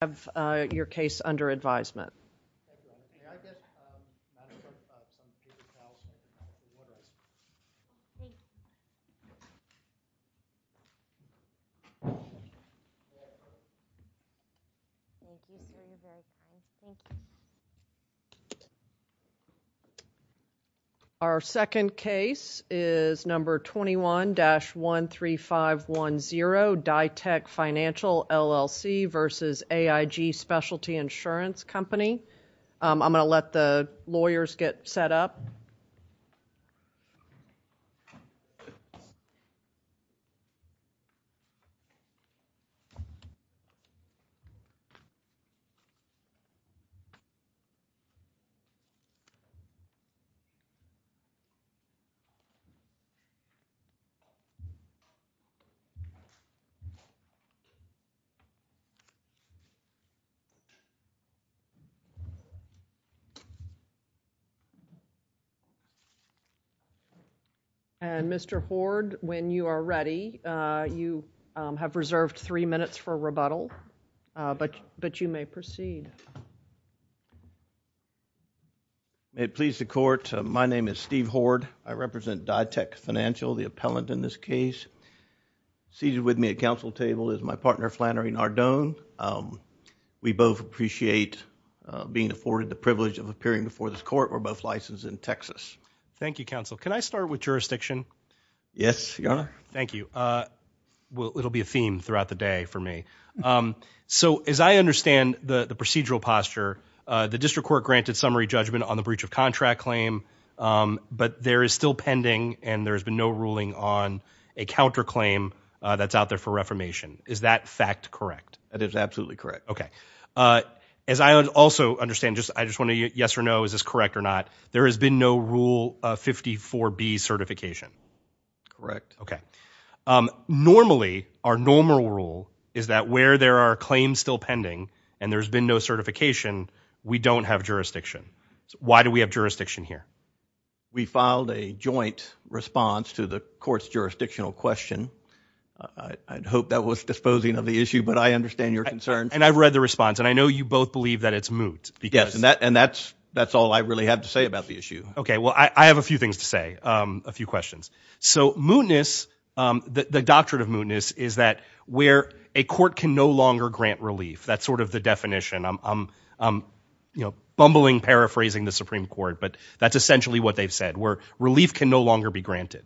have your case under advisement. Our second case is number 21-13510, Ditech Financial, LLC v. AIG Specialty Insurance Company. I am going to let the lawyers get set up. Mr. Hoard, when you are ready, you have reserved three minutes for a rebuttal, but you may proceed. May it please the Court, my name is Steve Hoard. I represent Ditech Financial, the appellant in this case. Seated with me at counsel table is my partner, Flannery Nardone. We both appreciate being afforded the privilege of appearing before this Court. We're both licensed in Texas. Thank you, counsel. Can I start with jurisdiction? Yes, Your Honor. Thank you. Well, it'll be a theme throughout the day for me. So as I understand the procedural posture, the district court granted summary judgment on the breach of contract claim, but there is still pending and there has been no ruling on a counterclaim that's out there for reformation. Is that fact correct? That is absolutely correct. Okay. As I also understand, I just want to, yes or no, is this correct or not, there has been no Rule 54B certification. Correct. Okay. Normally, our normal rule is that where there are claims still pending and there's been no certification, we don't have jurisdiction. Why do we have jurisdiction here? We filed a joint response to the Court's jurisdictional question. I'd hope that was disposing of the issue, but I understand your concern. And I've read the response, and I know you both believe that it's moot. And that's all I really have to say about the issue. Okay. Well, I have a few things to say, a few questions. So mootness, the doctrine of mootness is that where a court can no longer grant relief. That's sort of the definition. I'm, you know, bumbling, paraphrasing the Supreme Court, but that's essentially what they've said, where relief can no longer be granted.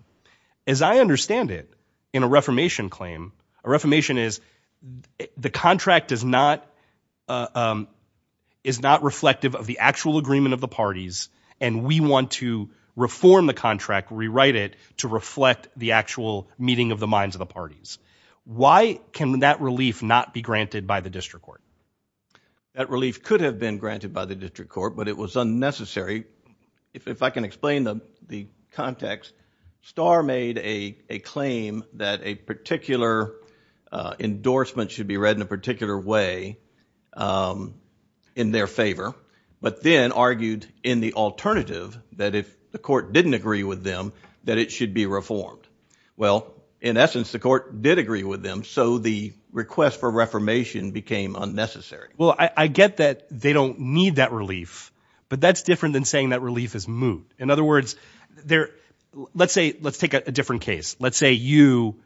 As I understand it, in a reformation claim, a reformation is the contract is not reflective of the actual agreement of the parties, and we want to reform the contract, rewrite it to reflect the actual meeting of the minds of the parties. Why can that relief not be granted by the district court? That relief could have been granted by the district court, but it was unnecessary. If I can explain the context, Starr made a claim that a particular endorsement should be read in a particular way in their favor, but then argued in the alternative that if the court didn't agree with them, that it should be reformed. Well, in essence, the court did agree with them, so the request for reformation became unnecessary. Well, I get that they don't need that relief, but that's different than saying that relief is moot. In other words, let's take a different case. Let's say you,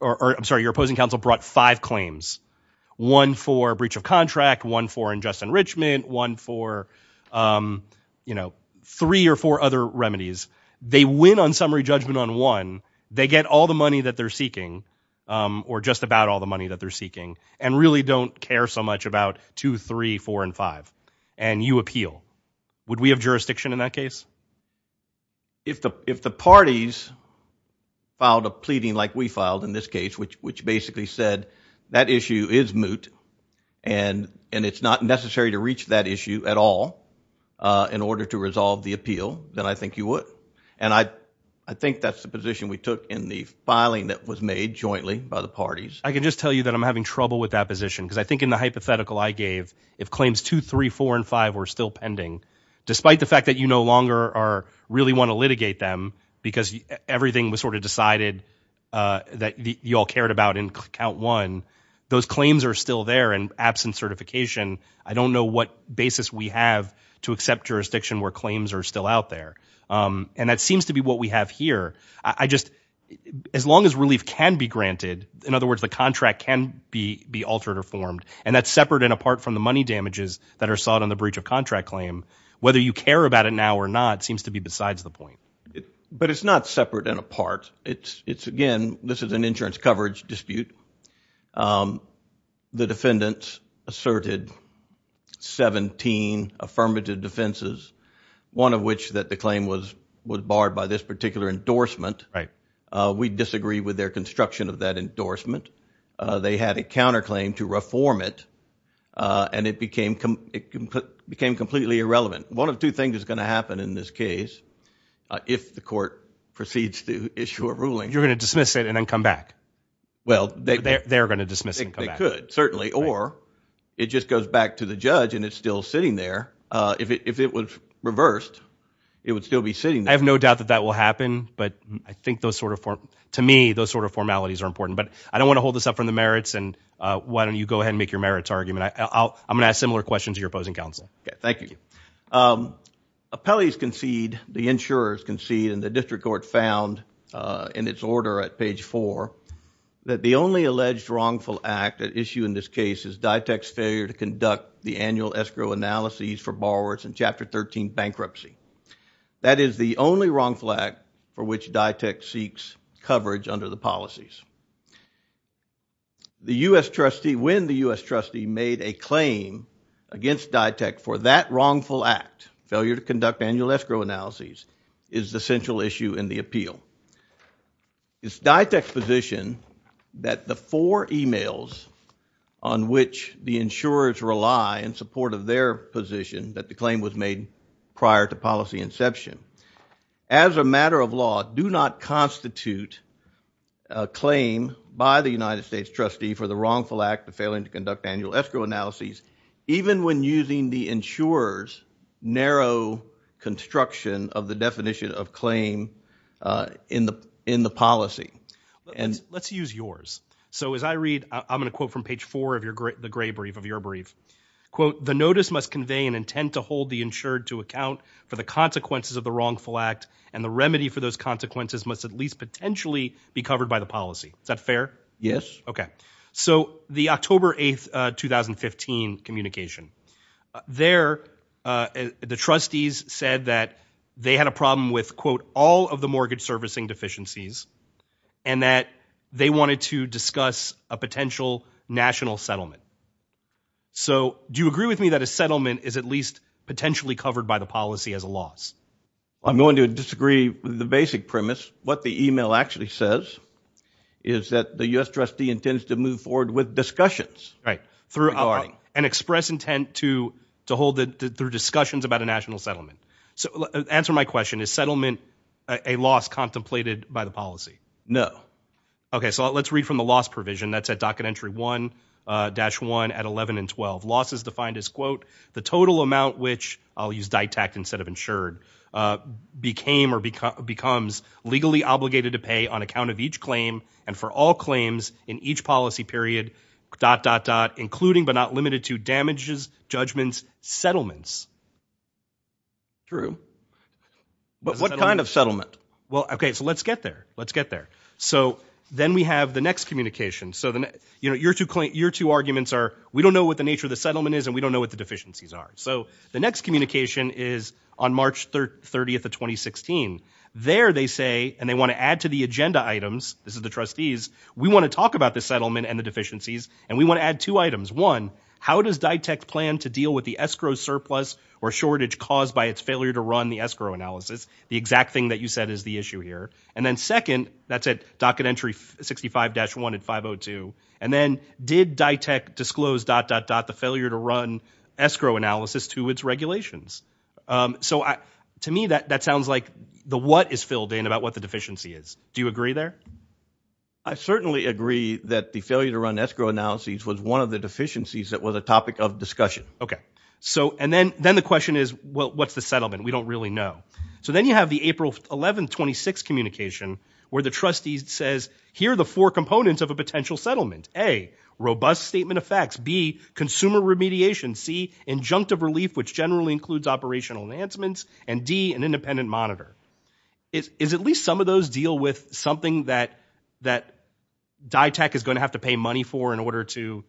or I'm sorry, your opposing counsel brought five claims, one for breach of contract, one for unjust enrichment, one for, you know, three or four other remedies. They win on summary judgment on one, they get all the money that they're seeking, or just about all the money that they're seeking, and really don't care so much about two, three, four, and five, and you appeal. Would we have jurisdiction in that case? If the parties filed a pleading like we filed in this case, which basically said that issue is moot, and it's not necessary to reach that issue at all in order to resolve the appeal, then I think you would. And I think that's the position we took in the filing that was made jointly by the parties. I can just tell you that I'm having trouble with that position, because I think in the hypothetical I gave, if claims two, three, four, and five were still pending, despite the fact that you no longer really want to litigate them, because everything was sort of decided that you all cared about in count one, those claims are still there and absent certification, I don't know what basis we have to accept jurisdiction where claims are still out there. And that seems to be what we have here. As long as relief can be granted, in other words, the contract can be altered or formed, and that's separate and apart from the money damages that are sought on the breach of contract claim, whether you care about it now or not seems to be besides the point. But it's not separate and apart. It's again, this is an insurance coverage dispute. The defendants asserted 17 affirmative defenses, one of which that the claim was barred by this particular endorsement. We disagree with their construction of that endorsement. They had a counterclaim to reform it, and it became completely irrelevant. One of two things is going to happen in this case, if the court proceeds to issue a ruling. You're going to dismiss it and then come back. Well, they're going to dismiss it and come back. They could, certainly. Or it just goes back to the judge and it's still sitting there. If it was reversed, it would still be sitting there. I have no doubt that that will happen, but I think those sort of, to me, those sort of formalities are important. But I don't want to hold this up from the merits, and why don't you go ahead and make your merits argument. I'm going to ask similar questions to your opposing counsel. Thank you. Appellees concede, the insurers concede, and the district court found in its order at page four that the only alleged wrongful act at issue in this case is DITEC's failure to conduct the annual escrow analyses for borrowers in Chapter 13 bankruptcy. That is the only wrongful act for which DITEC seeks coverage under the policies. The U.S. trustee, when the U.S. trustee made a claim against DITEC for that wrongful act, failure to conduct annual escrow analyses, is the central issue in the appeal. It's DITEC's position that the four emails on which the insurers rely in support of their position that the claim was made prior to policy inception, as a matter of law, do not constitute a claim by the United States trustee for the wrongful act of failing to conduct annual escrow analyses, even when using the insurer's narrow construction of the definition of claim in the policy. Let's use yours. So as I read, I'm going to quote from page four of the gray brief, of your brief. Quote, the notice must convey an intent to hold the insured to account for the consequences of the wrongful act, and the remedy for those consequences must at least potentially be covered by the policy. Is that fair? Yes. Okay. So the October 8, 2015 communication. There, the trustees said that they had a problem with, quote, all of the mortgage servicing deficiencies, and that they wanted to discuss a potential national settlement. So do you agree with me that a settlement is at least potentially covered by the policy as a loss? I'm going to disagree with the basic premise. What the email actually says is that the U.S. trustee intends to move forward with discussions. Right. And express intent to hold the discussions about a national settlement. So answer my question. Is settlement a loss contemplated by the policy? No. Okay. So let's read from the loss provision. That's at docket entry 1-1 at 11 and 12. Loss is defined as, quote, the total amount, which I'll use DITAC instead of insured, became or becomes legally obligated to pay on account of each claim and for all claims in each policy period, dot, dot, dot, including but not limited to damages, judgments, settlements. True. But what kind of settlement? Well, okay. So let's get there. Let's get there. So then we have the next communication. So your two arguments are we don't know what the nature of the settlement is and we don't know what the deficiencies are. So the next communication is on March 30th of 2016. There they say, and they want to add to the agenda items, this is the trustees, we want to talk about the settlement and the deficiencies and we want to add two items. One, how does DITAC plan to deal with the escrow surplus or shortage caused by its failure to run the escrow analysis? The exact thing that you said is the issue here. And then second, that's at docket entry 65-1 and 502. And then did DITAC disclose, dot, dot, dot, the failure to run escrow analysis to its regulations? So to me, that sounds like the what is filled in about what the deficiency is. Do you agree there? I certainly agree that the failure to run escrow analyses was one of the deficiencies that was a topic of discussion. Okay. So and then the question is, well, what's the settlement? We don't really know. So then you have the April 11th, 26th communication where the trustee says, here are the four components of a potential settlement. A, robust statement of facts. B, consumer remediation. C, injunctive relief, which generally includes operational enhancements. And D, an independent monitor. Is at least some of those deal with something that DITAC is going to have to pay money for in order to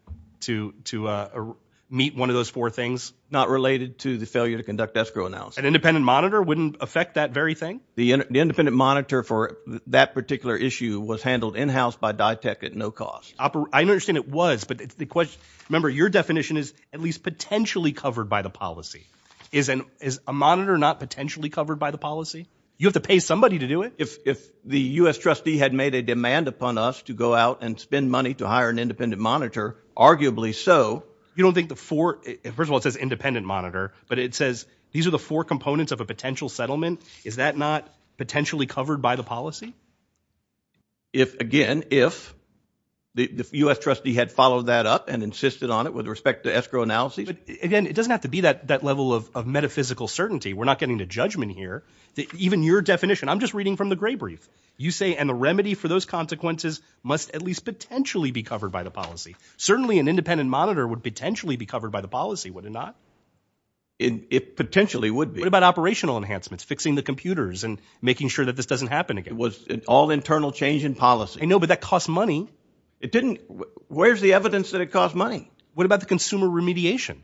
meet one of those four things? Not related to the failure to conduct escrow analysis. An independent monitor wouldn't affect that very thing? The independent monitor for that particular issue was handled in-house by DITAC at no cost. I understand it was, but the question, remember, your definition is at least potentially covered by the policy. Is a monitor not potentially covered by the policy? You have to pay somebody to do it. If the U.S. trustee had made a demand upon us to go out and spend money to hire an independent monitor, arguably so, you don't think the four, first of all, it says independent monitor, but it says these are the four components of a potential settlement. Is that not potentially covered by the policy? If, again, if the U.S. trustee had followed that up and insisted on it with respect to escrow analysis. Again, it doesn't have to be that level of metaphysical certainty. We're not getting to judgment here. Even your definition, I'm just reading from the Gray Brief. You say, and the remedy for those consequences must at least potentially be covered by the policy. Certainly an independent monitor would potentially be covered by the policy, would it not? It potentially would be. What about operational enhancements, fixing the computers and making sure that this doesn't happen again? It was an all internal change in policy. I know, but that costs money. It didn't. Where's the evidence that it costs money? What about the consumer remediation?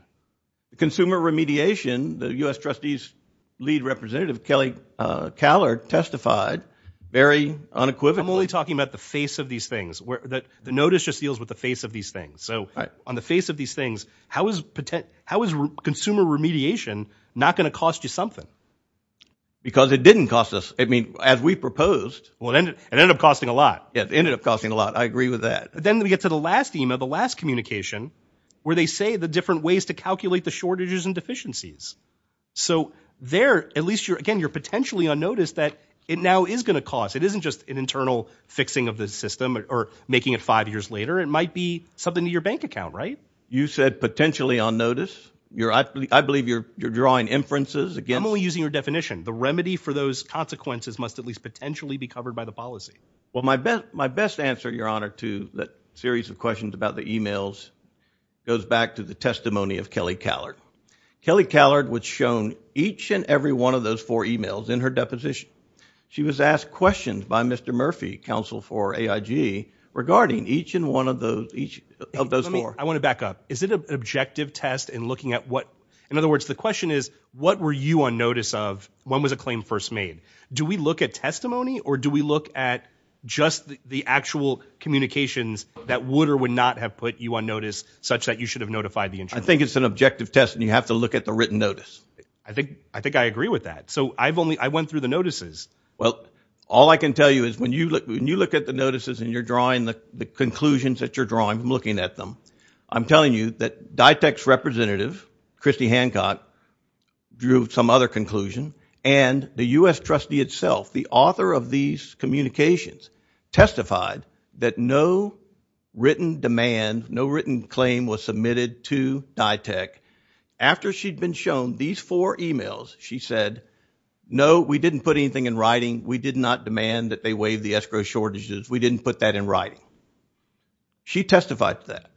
Consumer remediation, the U.S. trustee's lead representative, Kelly Callard, testified very unequivocally. I'm only talking about the face of these things. The notice just deals with the face of these things. So on the face of these things, how is consumer remediation not going to cost you something? Because it didn't cost us. I mean, as we proposed. Well, it ended up costing a lot. It ended up costing a lot. I agree with that. Then we get to the last email, the last communication, where they say the different ways to calculate the shortages and deficiencies. So there, at least, again, you're potentially on notice that it now is going to cost. It isn't just an internal fixing of the system or making it five years later. It might be something to your bank account, right? You said potentially on notice. I believe you're drawing inferences against... I'm only using your definition. The remedy for those consequences must at least potentially be covered by the policy. Well, my best answer, Your Honor, to that series of questions about the emails goes back to the testimony of Kelly Callard. Kelly Callard was shown each and every one of those four emails in her deposition. She was asked questions by Mr. Murphy, counsel for AIG, regarding each and one of those four. I want to back up. Is it an objective test in looking at what... In other words, the question is, what were you on notice of when was a claim first made? Do we look at testimony, or do we look at just the actual communications that would or would not have put you on notice such that you should have notified the insurance? I think it's an objective test, and you have to look at the written notice. I think I agree with that. So I went through the notices. Well, all I can tell you is when you look at the notices and you're drawing the conclusions that you're drawing from looking at them, I'm telling you that DITEC's representative, Christy Hancock, drew some other conclusion, and the U.S. trustee itself, the author of these communications, testified that no written demand, no written claim was submitted to DITEC. After she'd been shown these four emails, she said, no, we didn't put anything in writing. We did not demand that they waive the escrow shortages. We didn't put that in writing. She testified to that.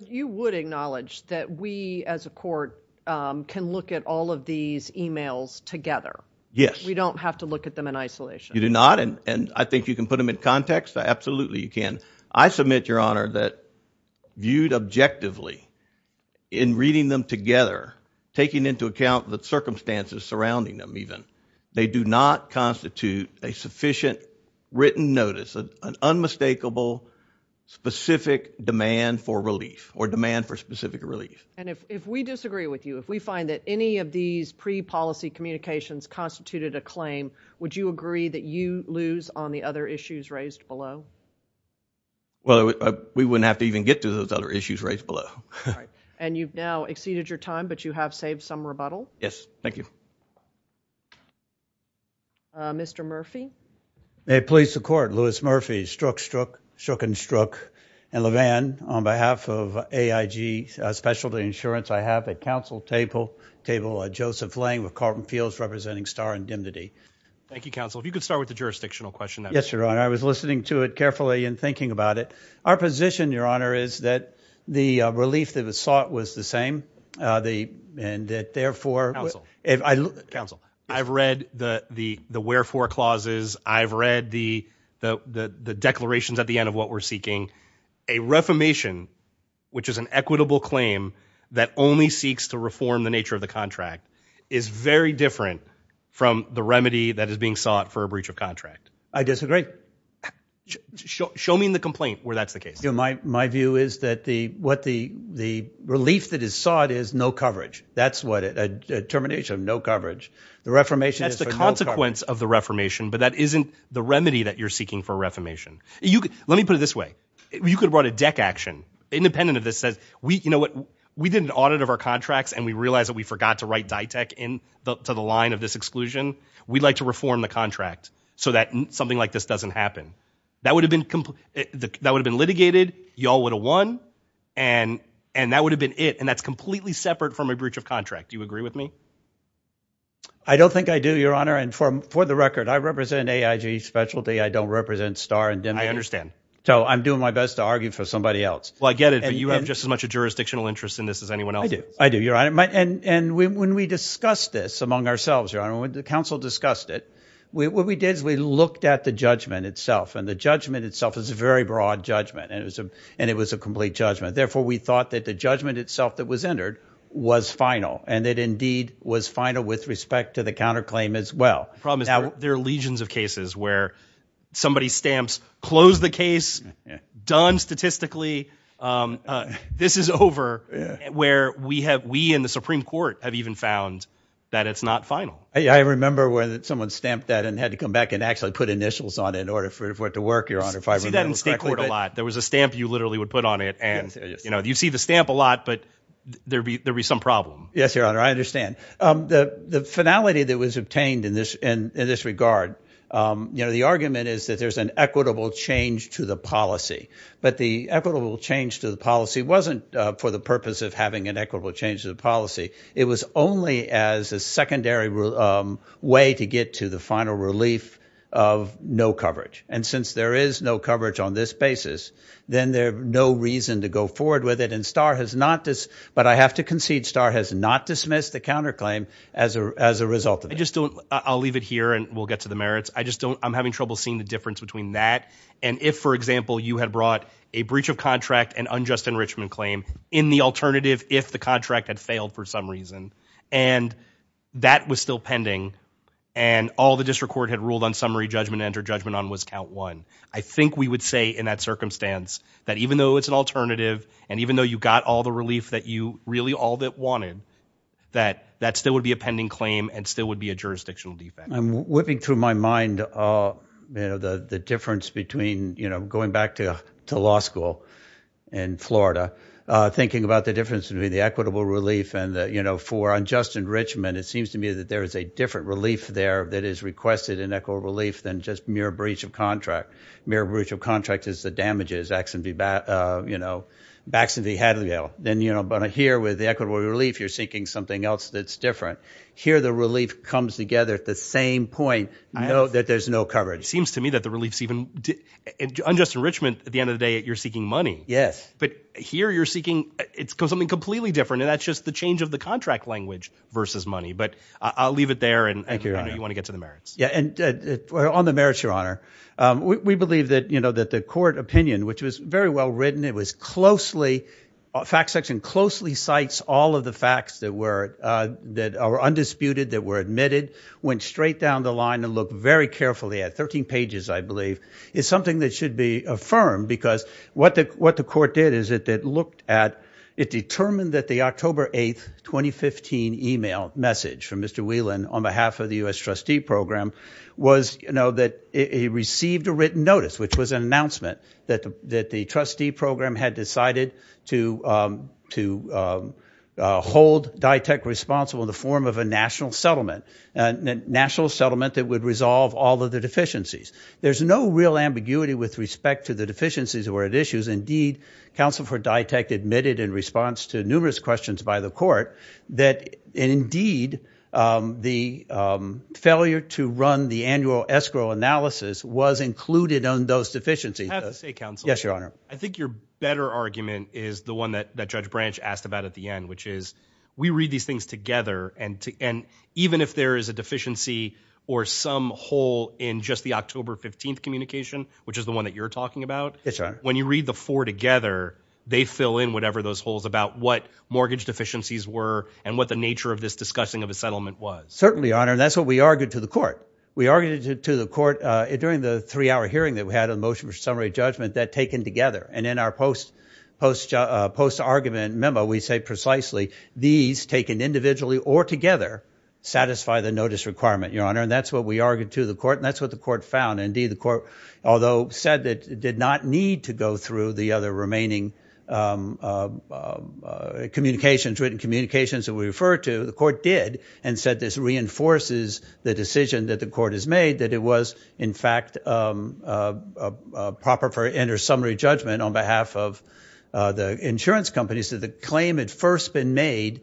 You would acknowledge that we, as a court, can look at all of these emails together. Yes. We don't have to look at them in isolation. You do not, and I think you can put them in context. Absolutely, you can. I submit, Your Honor, that viewed objectively in reading them together, taking into account the circumstances surrounding them even, they do not constitute a sufficient written notice, an unmistakable specific demand for relief or demand for specific relief. And if we disagree with you, if we find that any of these pre-policy communications constituted a claim, would you agree that you lose on the other issues raised below? Well, we wouldn't have to even get to those other issues raised below. All right. And you've now exceeded your time, but you have saved some rebuttal? Yes. Thank you. Mr. Murphy? May it please the Court, Louis Murphy, struck, struck, shook, and struck. And LeVan, on behalf of AIG Specialty Insurance, I have at counsel table, table Joseph Lang, with Carlton Fields representing Starr and Dimnity. Thank you, counsel. If you could start with the jurisdictional question. Yes, Your Honor. I was listening to it carefully and thinking about it. Our position, Your Honor, is that the relief that was sought was the same. And that, therefore, if I. Counsel. I've read the wherefore clauses. I've read the declarations at the end of what we're seeking. A reformation, which is an equitable claim, that only seeks to reform the nature of the contract, is very different from the remedy that is being sought for a breach of contract. I disagree. Show me in the complaint where that's the case. My view is that what the relief that is sought is no coverage. That's what a termination of no coverage. The reformation is for no coverage. That's the consequence of the reformation, but that isn't the remedy that you're seeking for a reformation. Let me put it this way. You could have brought a deck action independent of this. You know what? We did an audit of our contracts, and we realized that we forgot to write DITEC into the line of this exclusion. We'd like to reform the contract so that something like this doesn't happen. That would have been litigated. You all would have won, and that would have been it, and that's completely separate from a breach of contract. Do you agree with me? I don't think I do, Your Honor, and for the record, I represent AIG specialty. I don't represent Starr and Dembe. I understand. So I'm doing my best to argue for somebody else. Well, I get it, but you have just as much a jurisdictional interest in this as anyone else. I do. I do, Your Honor, and when we discussed this among ourselves, Your Honor, when the counsel discussed it, what we did is we looked at the judgment itself, and the judgment itself is a very broad judgment, and it was a complete judgment. Therefore, we thought that the judgment itself that was entered was final, and it indeed was final with respect to the counterclaim as well. The problem is there are legions of cases where somebody stamps close the case, done statistically, this is over, where we in the Supreme Court have even found that it's not final. I remember when someone stamped that and had to come back and actually put initials on it in order for it to work, Your Honor, if I remember correctly. I see that in state court a lot. There was a stamp you literally would put on it, and you see the stamp a lot, but there would be some problem. Yes, Your Honor, I understand. The finality that was obtained in this regard, the argument is that there's an equitable change to the policy, but the equitable change to the policy wasn't for the purpose of having an equitable change to the policy. It was only as a secondary way to get to the final relief of no coverage, and since there is no coverage on this basis, then there's no reason to go forward with it, but I have to concede Starr has not dismissed the counterclaim as a result of it. I'll leave it here, and we'll get to the merits. I'm having trouble seeing the difference between that and if, for example, you had brought a breach of contract and unjust enrichment claim in the alternative if the contract had failed for some reason, and that was still pending, and all the district court had ruled on summary judgment and entered judgment on was count one. I think we would say in that circumstance that even though it's an alternative and even though you got all the relief that you really all wanted, that that still would be a pending claim and still would be a jurisdictional defect. I'm whipping through my mind the difference between, going back to law school in Florida, thinking about the difference between the equitable relief and for unjust enrichment, it seems to me that there is a different relief there that is requested in equitable relief than just mere breach of contract. Mere breach of contract is the damages, Axon v. Hadleydale. Then here with the equitable relief, you're seeking something else that's different. Here the relief comes together at the same point that there's no coverage. It seems to me that the relief's even, unjust enrichment, at the end of the day, you're seeking money. Yes. But here you're seeking something completely different, and that's just the change of the contract language versus money. But I'll leave it there, and I know you want to get to the merits. Yeah, and on the merits, Your Honor, we believe that the court opinion, which was very well written, it was closely, fact section closely cites all of the facts that were undisputed, that were admitted, went straight down the line and looked very carefully at, 13 pages, I believe, is something that should be affirmed because what the court did is it looked at, it determined that the October 8th, 2015 email message from Mr. Whelan on behalf of the U.S. trustee program was that he received a written notice, which was an announcement that the trustee program had decided to hold DITAC responsible in the form of a national settlement, a national settlement that would resolve all of the deficiencies. There's no real ambiguity with respect to the deficiencies that were at issue. Indeed, counsel for DITAC admitted in response to numerous questions by the court that indeed the failure to run the annual escrow analysis was included on those deficiencies. I have to say, counsel, I think your better argument is the one that Judge Branch asked about at the end, which is we read these things together and even if there is a deficiency or some hole in just the October 15th communication, which is the one that you're talking about, when you read the four together, they fill in whatever those holes about what mortgage deficiencies were and what the nature of this discussing of a settlement was. Certainly, Your Honor, and that's what we argued to the court. We argued to the court during the three-hour hearing that we had on the motion for summary judgment that taken together and in our post-argument memo, we say precisely these taken individually or together satisfy the notice requirement, Your Honor, and that's what we argued to the court and that's what the court found. Indeed, the court, although said that it did not need to go through the other remaining written communications that we referred to, the court did and said this reinforces the decision that the court has made that it was in fact proper for inner summary judgment on behalf of the insurance companies that the claim had first been made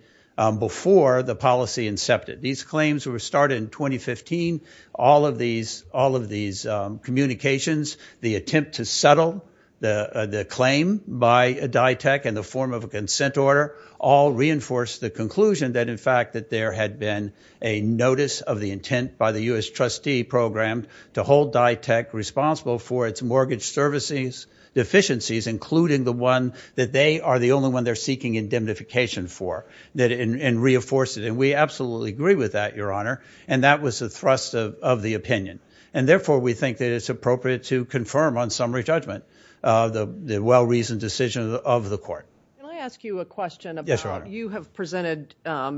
before the policy incepted. These claims were started in 2015. All of these communications, the attempt to settle the claim by DITEC in the form of a consent order all reinforced the conclusion that in fact that there had been a notice of the intent by the U.S. trustee program to hold DITEC responsible for its mortgage services deficiencies including the one that they are the only one they're seeking indemnification for and reinforce it and we absolutely agree with that, Your Honor, and that was a thrust of the opinion and therefore we think that it's appropriate to confirm on summary judgment the well-reasoned decision of the court. Can I ask you a question? Yes, Your Honor. You have presented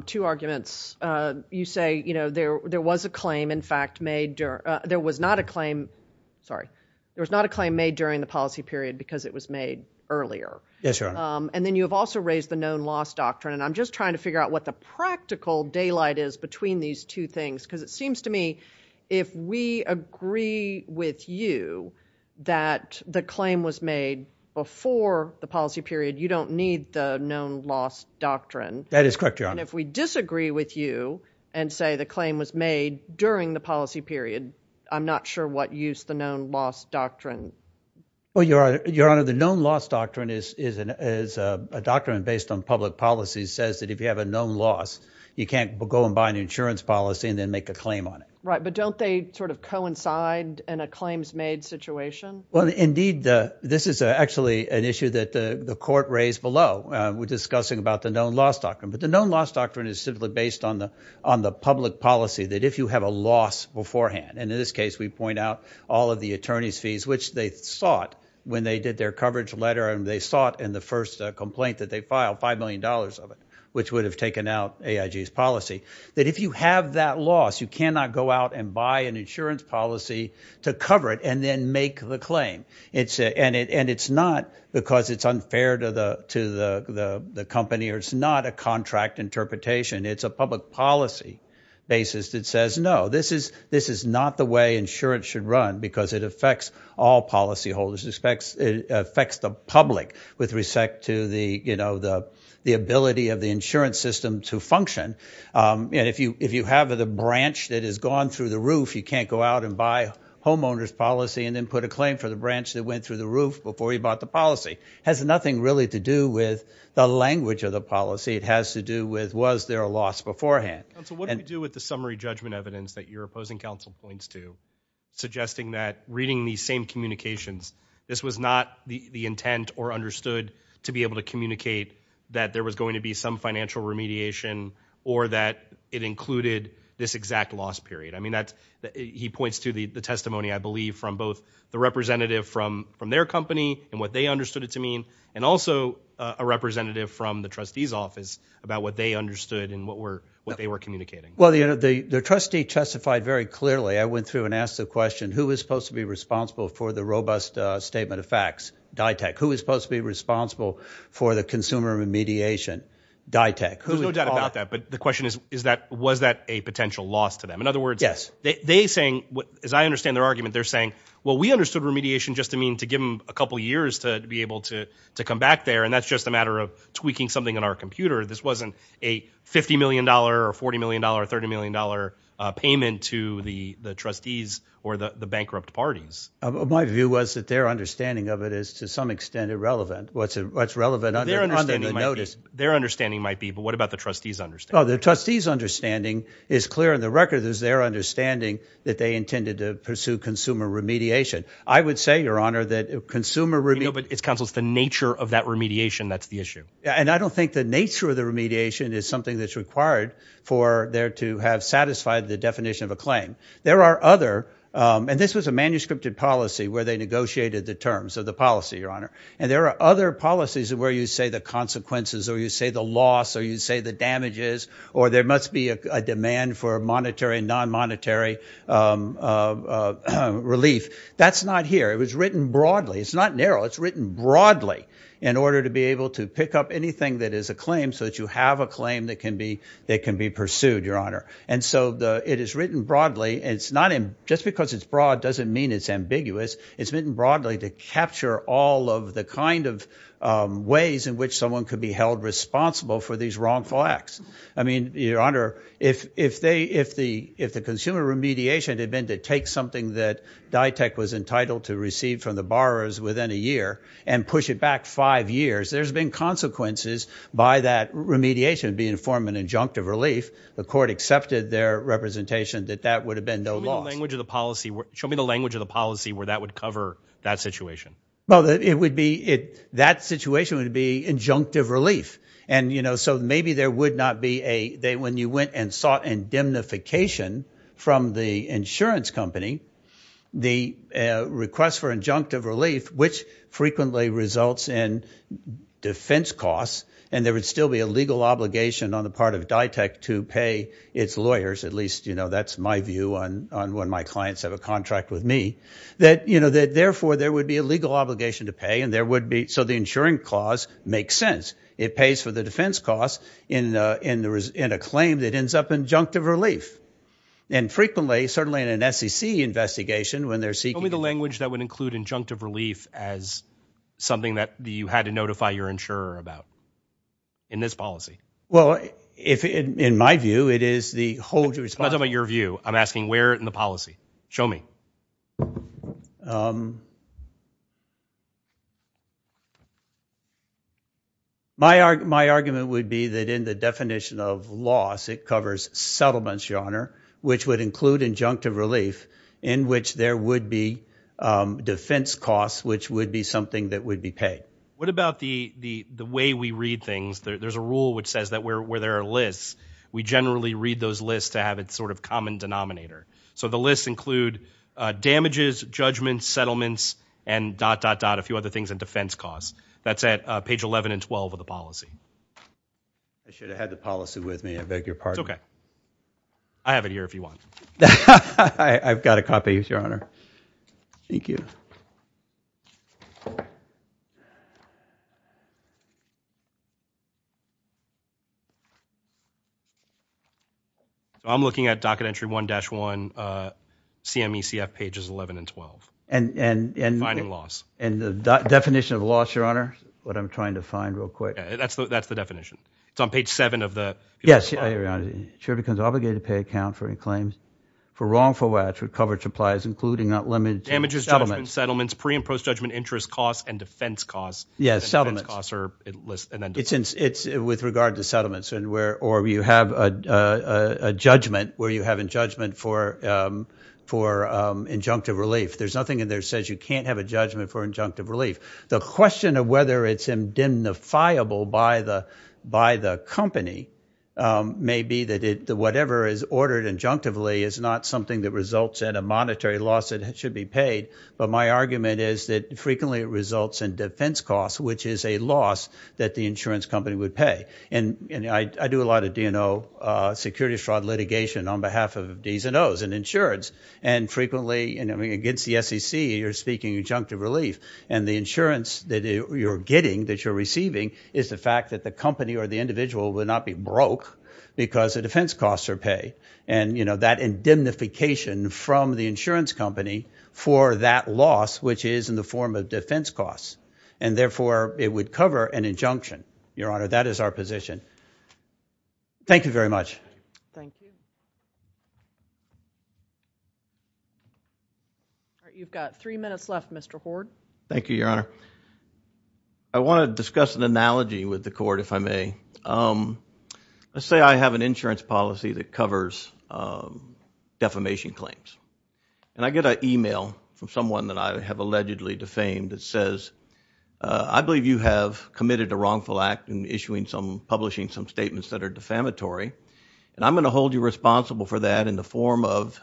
two arguments. You say, you know, there was a claim in fact made there was not a claim, sorry, there was not a claim made during the policy period because it was made earlier. Yes, Your Honor. And then you have also raised the known loss doctrine and I'm just trying to figure out what the practical daylight is between these two things because it seems to me if we agree with you that the claim was made before the policy period you don't need the known loss doctrine. That is correct, Your Honor. And if we disagree with you and say the claim was made during the policy period I'm not sure what use the known loss doctrine. Well, Your Honor, the known loss doctrine is a doctrine based on public policy says that if you have a known loss you can't go and buy an insurance policy and then make a claim on it. Right, but don't they sort of coincide in a claims made situation? Well, indeed, this is actually an issue that the court raised below. We're discussing about the known loss doctrine but the known loss doctrine is simply based on the public policy that if you have a loss beforehand and in this case we point out all of the attorney's fees which they sought when they did their coverage letter and they sought in the first complaint that they filed $5 million of it which would have taken out AIG's policy that if you have that loss you cannot go out and buy an insurance policy to cover it and then make the claim. And it's not because it's unfair to the company or it's not a contract interpretation it's a public policy basis that says no this is not the way insurance should run because it affects all policyholders it affects the public with respect to the ability of the insurance system to function and if you have the branch that has gone through the roof you can't go out and buy homeowner's policy and then put a claim for the branch that went through the roof before you bought the policy. It has nothing really to do with the language of the policy it has to do with was there a loss beforehand. Counsel, what do we do with the summary judgment evidence that you're opposing counsel points to suggesting that reading these same communications this was not the intent or understood to be able to communicate that there was going to be some financial remediation or that it included this exact loss period. I mean, he points to the testimony I believe from both the representative from their company and what they understood it to mean and also a representative from the trustee's office about what they understood and what they were communicating. Well, the trustee testified very clearly I went through and asked the question who is supposed to be responsible for the robust statement of facts? Ditech. Who is supposed to be responsible for the consumer remediation? Ditech. There's no doubt about that. But the question is that was that a potential loss to them? In other words, they're saying as I understand their argument, they're saying well, we understood remediation just to mean to give them a couple years to be able to come back there and that's just a matter of tweaking something in our computer. This wasn't a $50 million or $40 million or $30 million payment to the trustees or the bankrupt parties. My view was that their understanding of it is to some extent irrelevant. What's relevant under the notice. Their understanding might be but what about the trustees understanding? Oh, the trustees understanding is clear in the record. There's their understanding that they intended to pursue consumer remediation. I would say, your honor, that consumer remediation You know, but it's the nature of that remediation that's the issue. And I don't think the nature of the remediation is something that's required for there to have satisfied the definition of a claim. There are other and this was a manuscripted policy where they negotiated the terms of the policy, your honor. And there are other policies where you say the consequences or you say the loss or you say the damages or there must be a demand for monetary and non-monetary relief. That's not here. It was written broadly. It's not narrow. It's written broadly in order to be able to pick up anything that is a claim so that you have a claim that can be pursued, your honor. And so it is written broadly. It's not just because it's broad doesn't mean it's ambiguous. It's written broadly to capture all of the kind of ways in which someone could be held responsible for these wrongful acts. I mean, your honor, if the consumer remediation had been to take something that DITEC was entitled to receive from the borrowers within a year and push it back five years, there's been consequences by that remediation being to form an injunctive relief. The court accepted their representation that that would have been no loss. Show me the language of the policy where that would cover that situation. Well, it would be, that situation would be injunctive relief. And, you know, so maybe there would not be a, when you went and sought indemnification from the insurance company, the request for injunctive relief, which frequently results in defense costs, and there would still be a legal obligation on the part of DITEC to pay its lawyers, at least, you know, that's my view on when my clients have a contract with me, that, you know, that, therefore, there would be a legal obligation to pay, and there would be, so the insuring clause makes sense. It pays for the defense costs in a claim that ends up injunctive relief. And frequently, certainly in an SEC investigation, when they're seeking... Show me the language that would include injunctive relief as something that you had to notify your insurer about in this policy. Well, if, in my view, it is the hold... I'm not talking about your view. I'm asking where in the policy. Show me. Um... My argument would be that in the definition of loss, it covers settlements, Your Honor, which would include injunctive relief in which there would be defense costs, which would be something that would be paid. What about the way we read things? There's a rule which says that where there are lists, we generally read those lists to have its sort of common denominator. So the lists include damages, judgments, settlements, and dot, dot, dot, a few other things in defense costs. That's at page 11 and 12 of the policy. I should have had the policy with me. I beg your pardon. It's okay. I have it here if you want. I've got a copy, Your Honor. Thank you. Thank you. I'm looking at docket entry 1-1, CMECF pages 11 and 12. And, and, and... Defining loss. And the definition of loss, Your Honor, what I'm trying to find real quick... That's the definition. It's on page 7 of the... Yes, Your Honor. The sheriff becomes obligated to pay account for any claims for wrongful acts with covered supplies, including unlimited... Damages, judgments, settlements, pre- and post-judgment interest costs, and defense costs. Yes, settlements. And defense costs are listed... It's with regard to settlements, or you have a judgment where you have a judgment for injunctive relief. There's nothing in there that says you can't have a judgment for injunctive relief. The question of whether it's indemnifiable by the company may be that whatever is ordered injunctively is not something that results in a monetary loss that should be paid. But my argument is that frequently it results in defense costs, which is a loss that the insurance company would pay. And I do a lot of, you know, security fraud litigation on behalf of D's and O's in insurance. And frequently, I mean, against the SEC, you're speaking injunctive relief. And the insurance that you're getting, that you're receiving, is the fact that the company or the individual would not be broke because the defense costs are paid. And, you know, that indemnification from the insurance company for that loss, which is in the form of defense costs. And, therefore, it would cover an injunction. Your Honor, that is our position. Thank you very much. Thank you. All right, you've got three minutes left, Mr. Hoard. Thank you, Your Honor. I want to discuss an analogy with the Court, if I may. Let's say I have an insurance policy that covers defamation claims. And I get an e-mail from someone that I have allegedly defamed that says, I believe you have committed a wrongful act in issuing some, publishing some statements that are defamatory. And I'm going to hold you responsible for that in the form of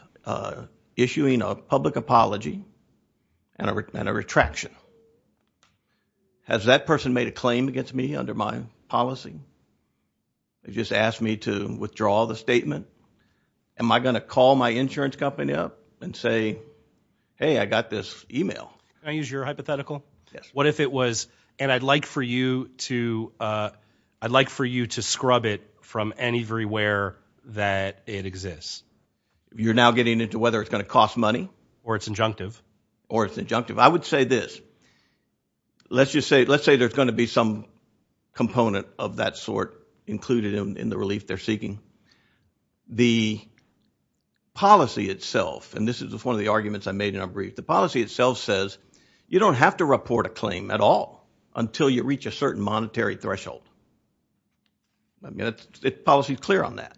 issuing a public apology and a retraction. Has that person made a claim against me under my policy? Has he just asked me to withdraw the statement? Am I going to call my insurance company up and say, hey, I got this e-mail? Can I use your hypothetical? Yes. What if it was, and I'd like for you to scrub it from anywhere that it exists? You're now getting into whether it's going to cost money? Or it's injunctive. Or it's injunctive. I would say this. Let's just say there's going to be some component of that sort included in the relief they're seeking. The policy itself, and this is one of the arguments I made in our brief, the policy itself says you don't have to report a claim at all until you reach a certain monetary threshold. The policy is clear on that.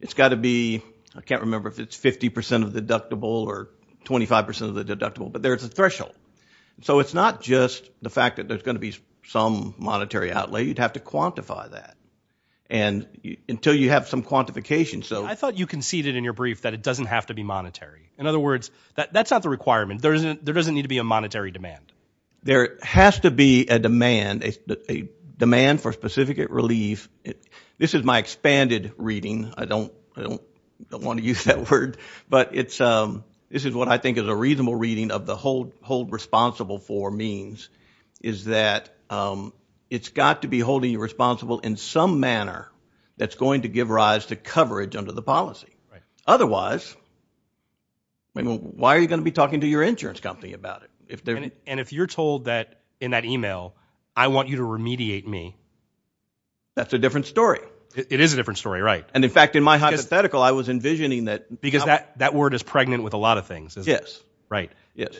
It's got to be, I can't remember if it's 50% of the deductible or 25% of the deductible, but there's a threshold. So it's not just the fact that there's going to be some monetary outlay. You'd have to quantify that. And until you have some quantification. I thought you conceded in your brief that it doesn't have to be monetary. In other words, that's not the requirement. There doesn't need to be a monetary demand. There has to be a demand, a demand for specific relief. This is my expanded reading. I don't want to use that word. But this is what I think is a reasonable reading of the hold responsible for means is that it's got to be holding you responsible in some manner that's going to give rise to coverage under the policy. Otherwise, why are you going to be talking to your insurance company about it? And if you're told that in that email, I want you to remediate me. That's a different story. It is a different story, right. And in fact, in my hypothetical, I was envisioning that. Because that word is pregnant with a lot of things. Yes. Right.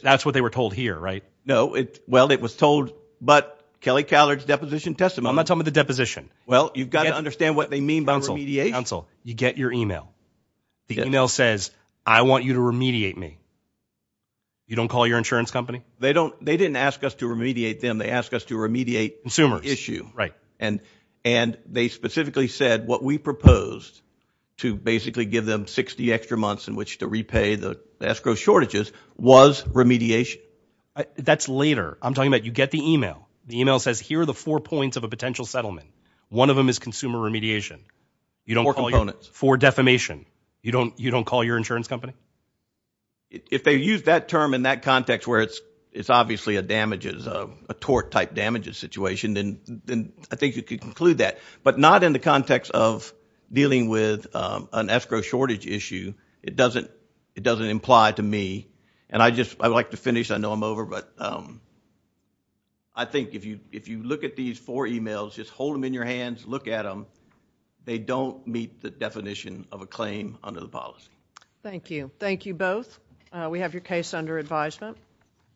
That's what they were told here, right? No. Well, it was told. But Kelly Callard's deposition testimony. I'm not talking about the deposition. Well, you've got to understand what they mean by remediation. Counsel, you get your email. The email says, I want you to remediate me. You don't call your insurance company? They didn't ask us to remediate them. They asked us to remediate consumers. Issue. Right. And they specifically said what we proposed to basically give them 60 extra months in which to repay the escrow shortages was remediation. That's later. I'm talking about you get the email. The email says, here are the four points of a potential settlement. One of them is consumer remediation. Four components. For defamation. You don't call your insurance company? If they use that term in that context where it's obviously a damages, a tort-type damages situation, then I think you could conclude that. But not in the context of dealing with an escrow shortage issue. It doesn't imply to me. And I would like to finish. I know I'm over. But I think if you look at these four emails, just hold them in your hands, look at them, they don't meet the definition of a claim under the policy. Thank you. Thank you both. We have your case under advisement.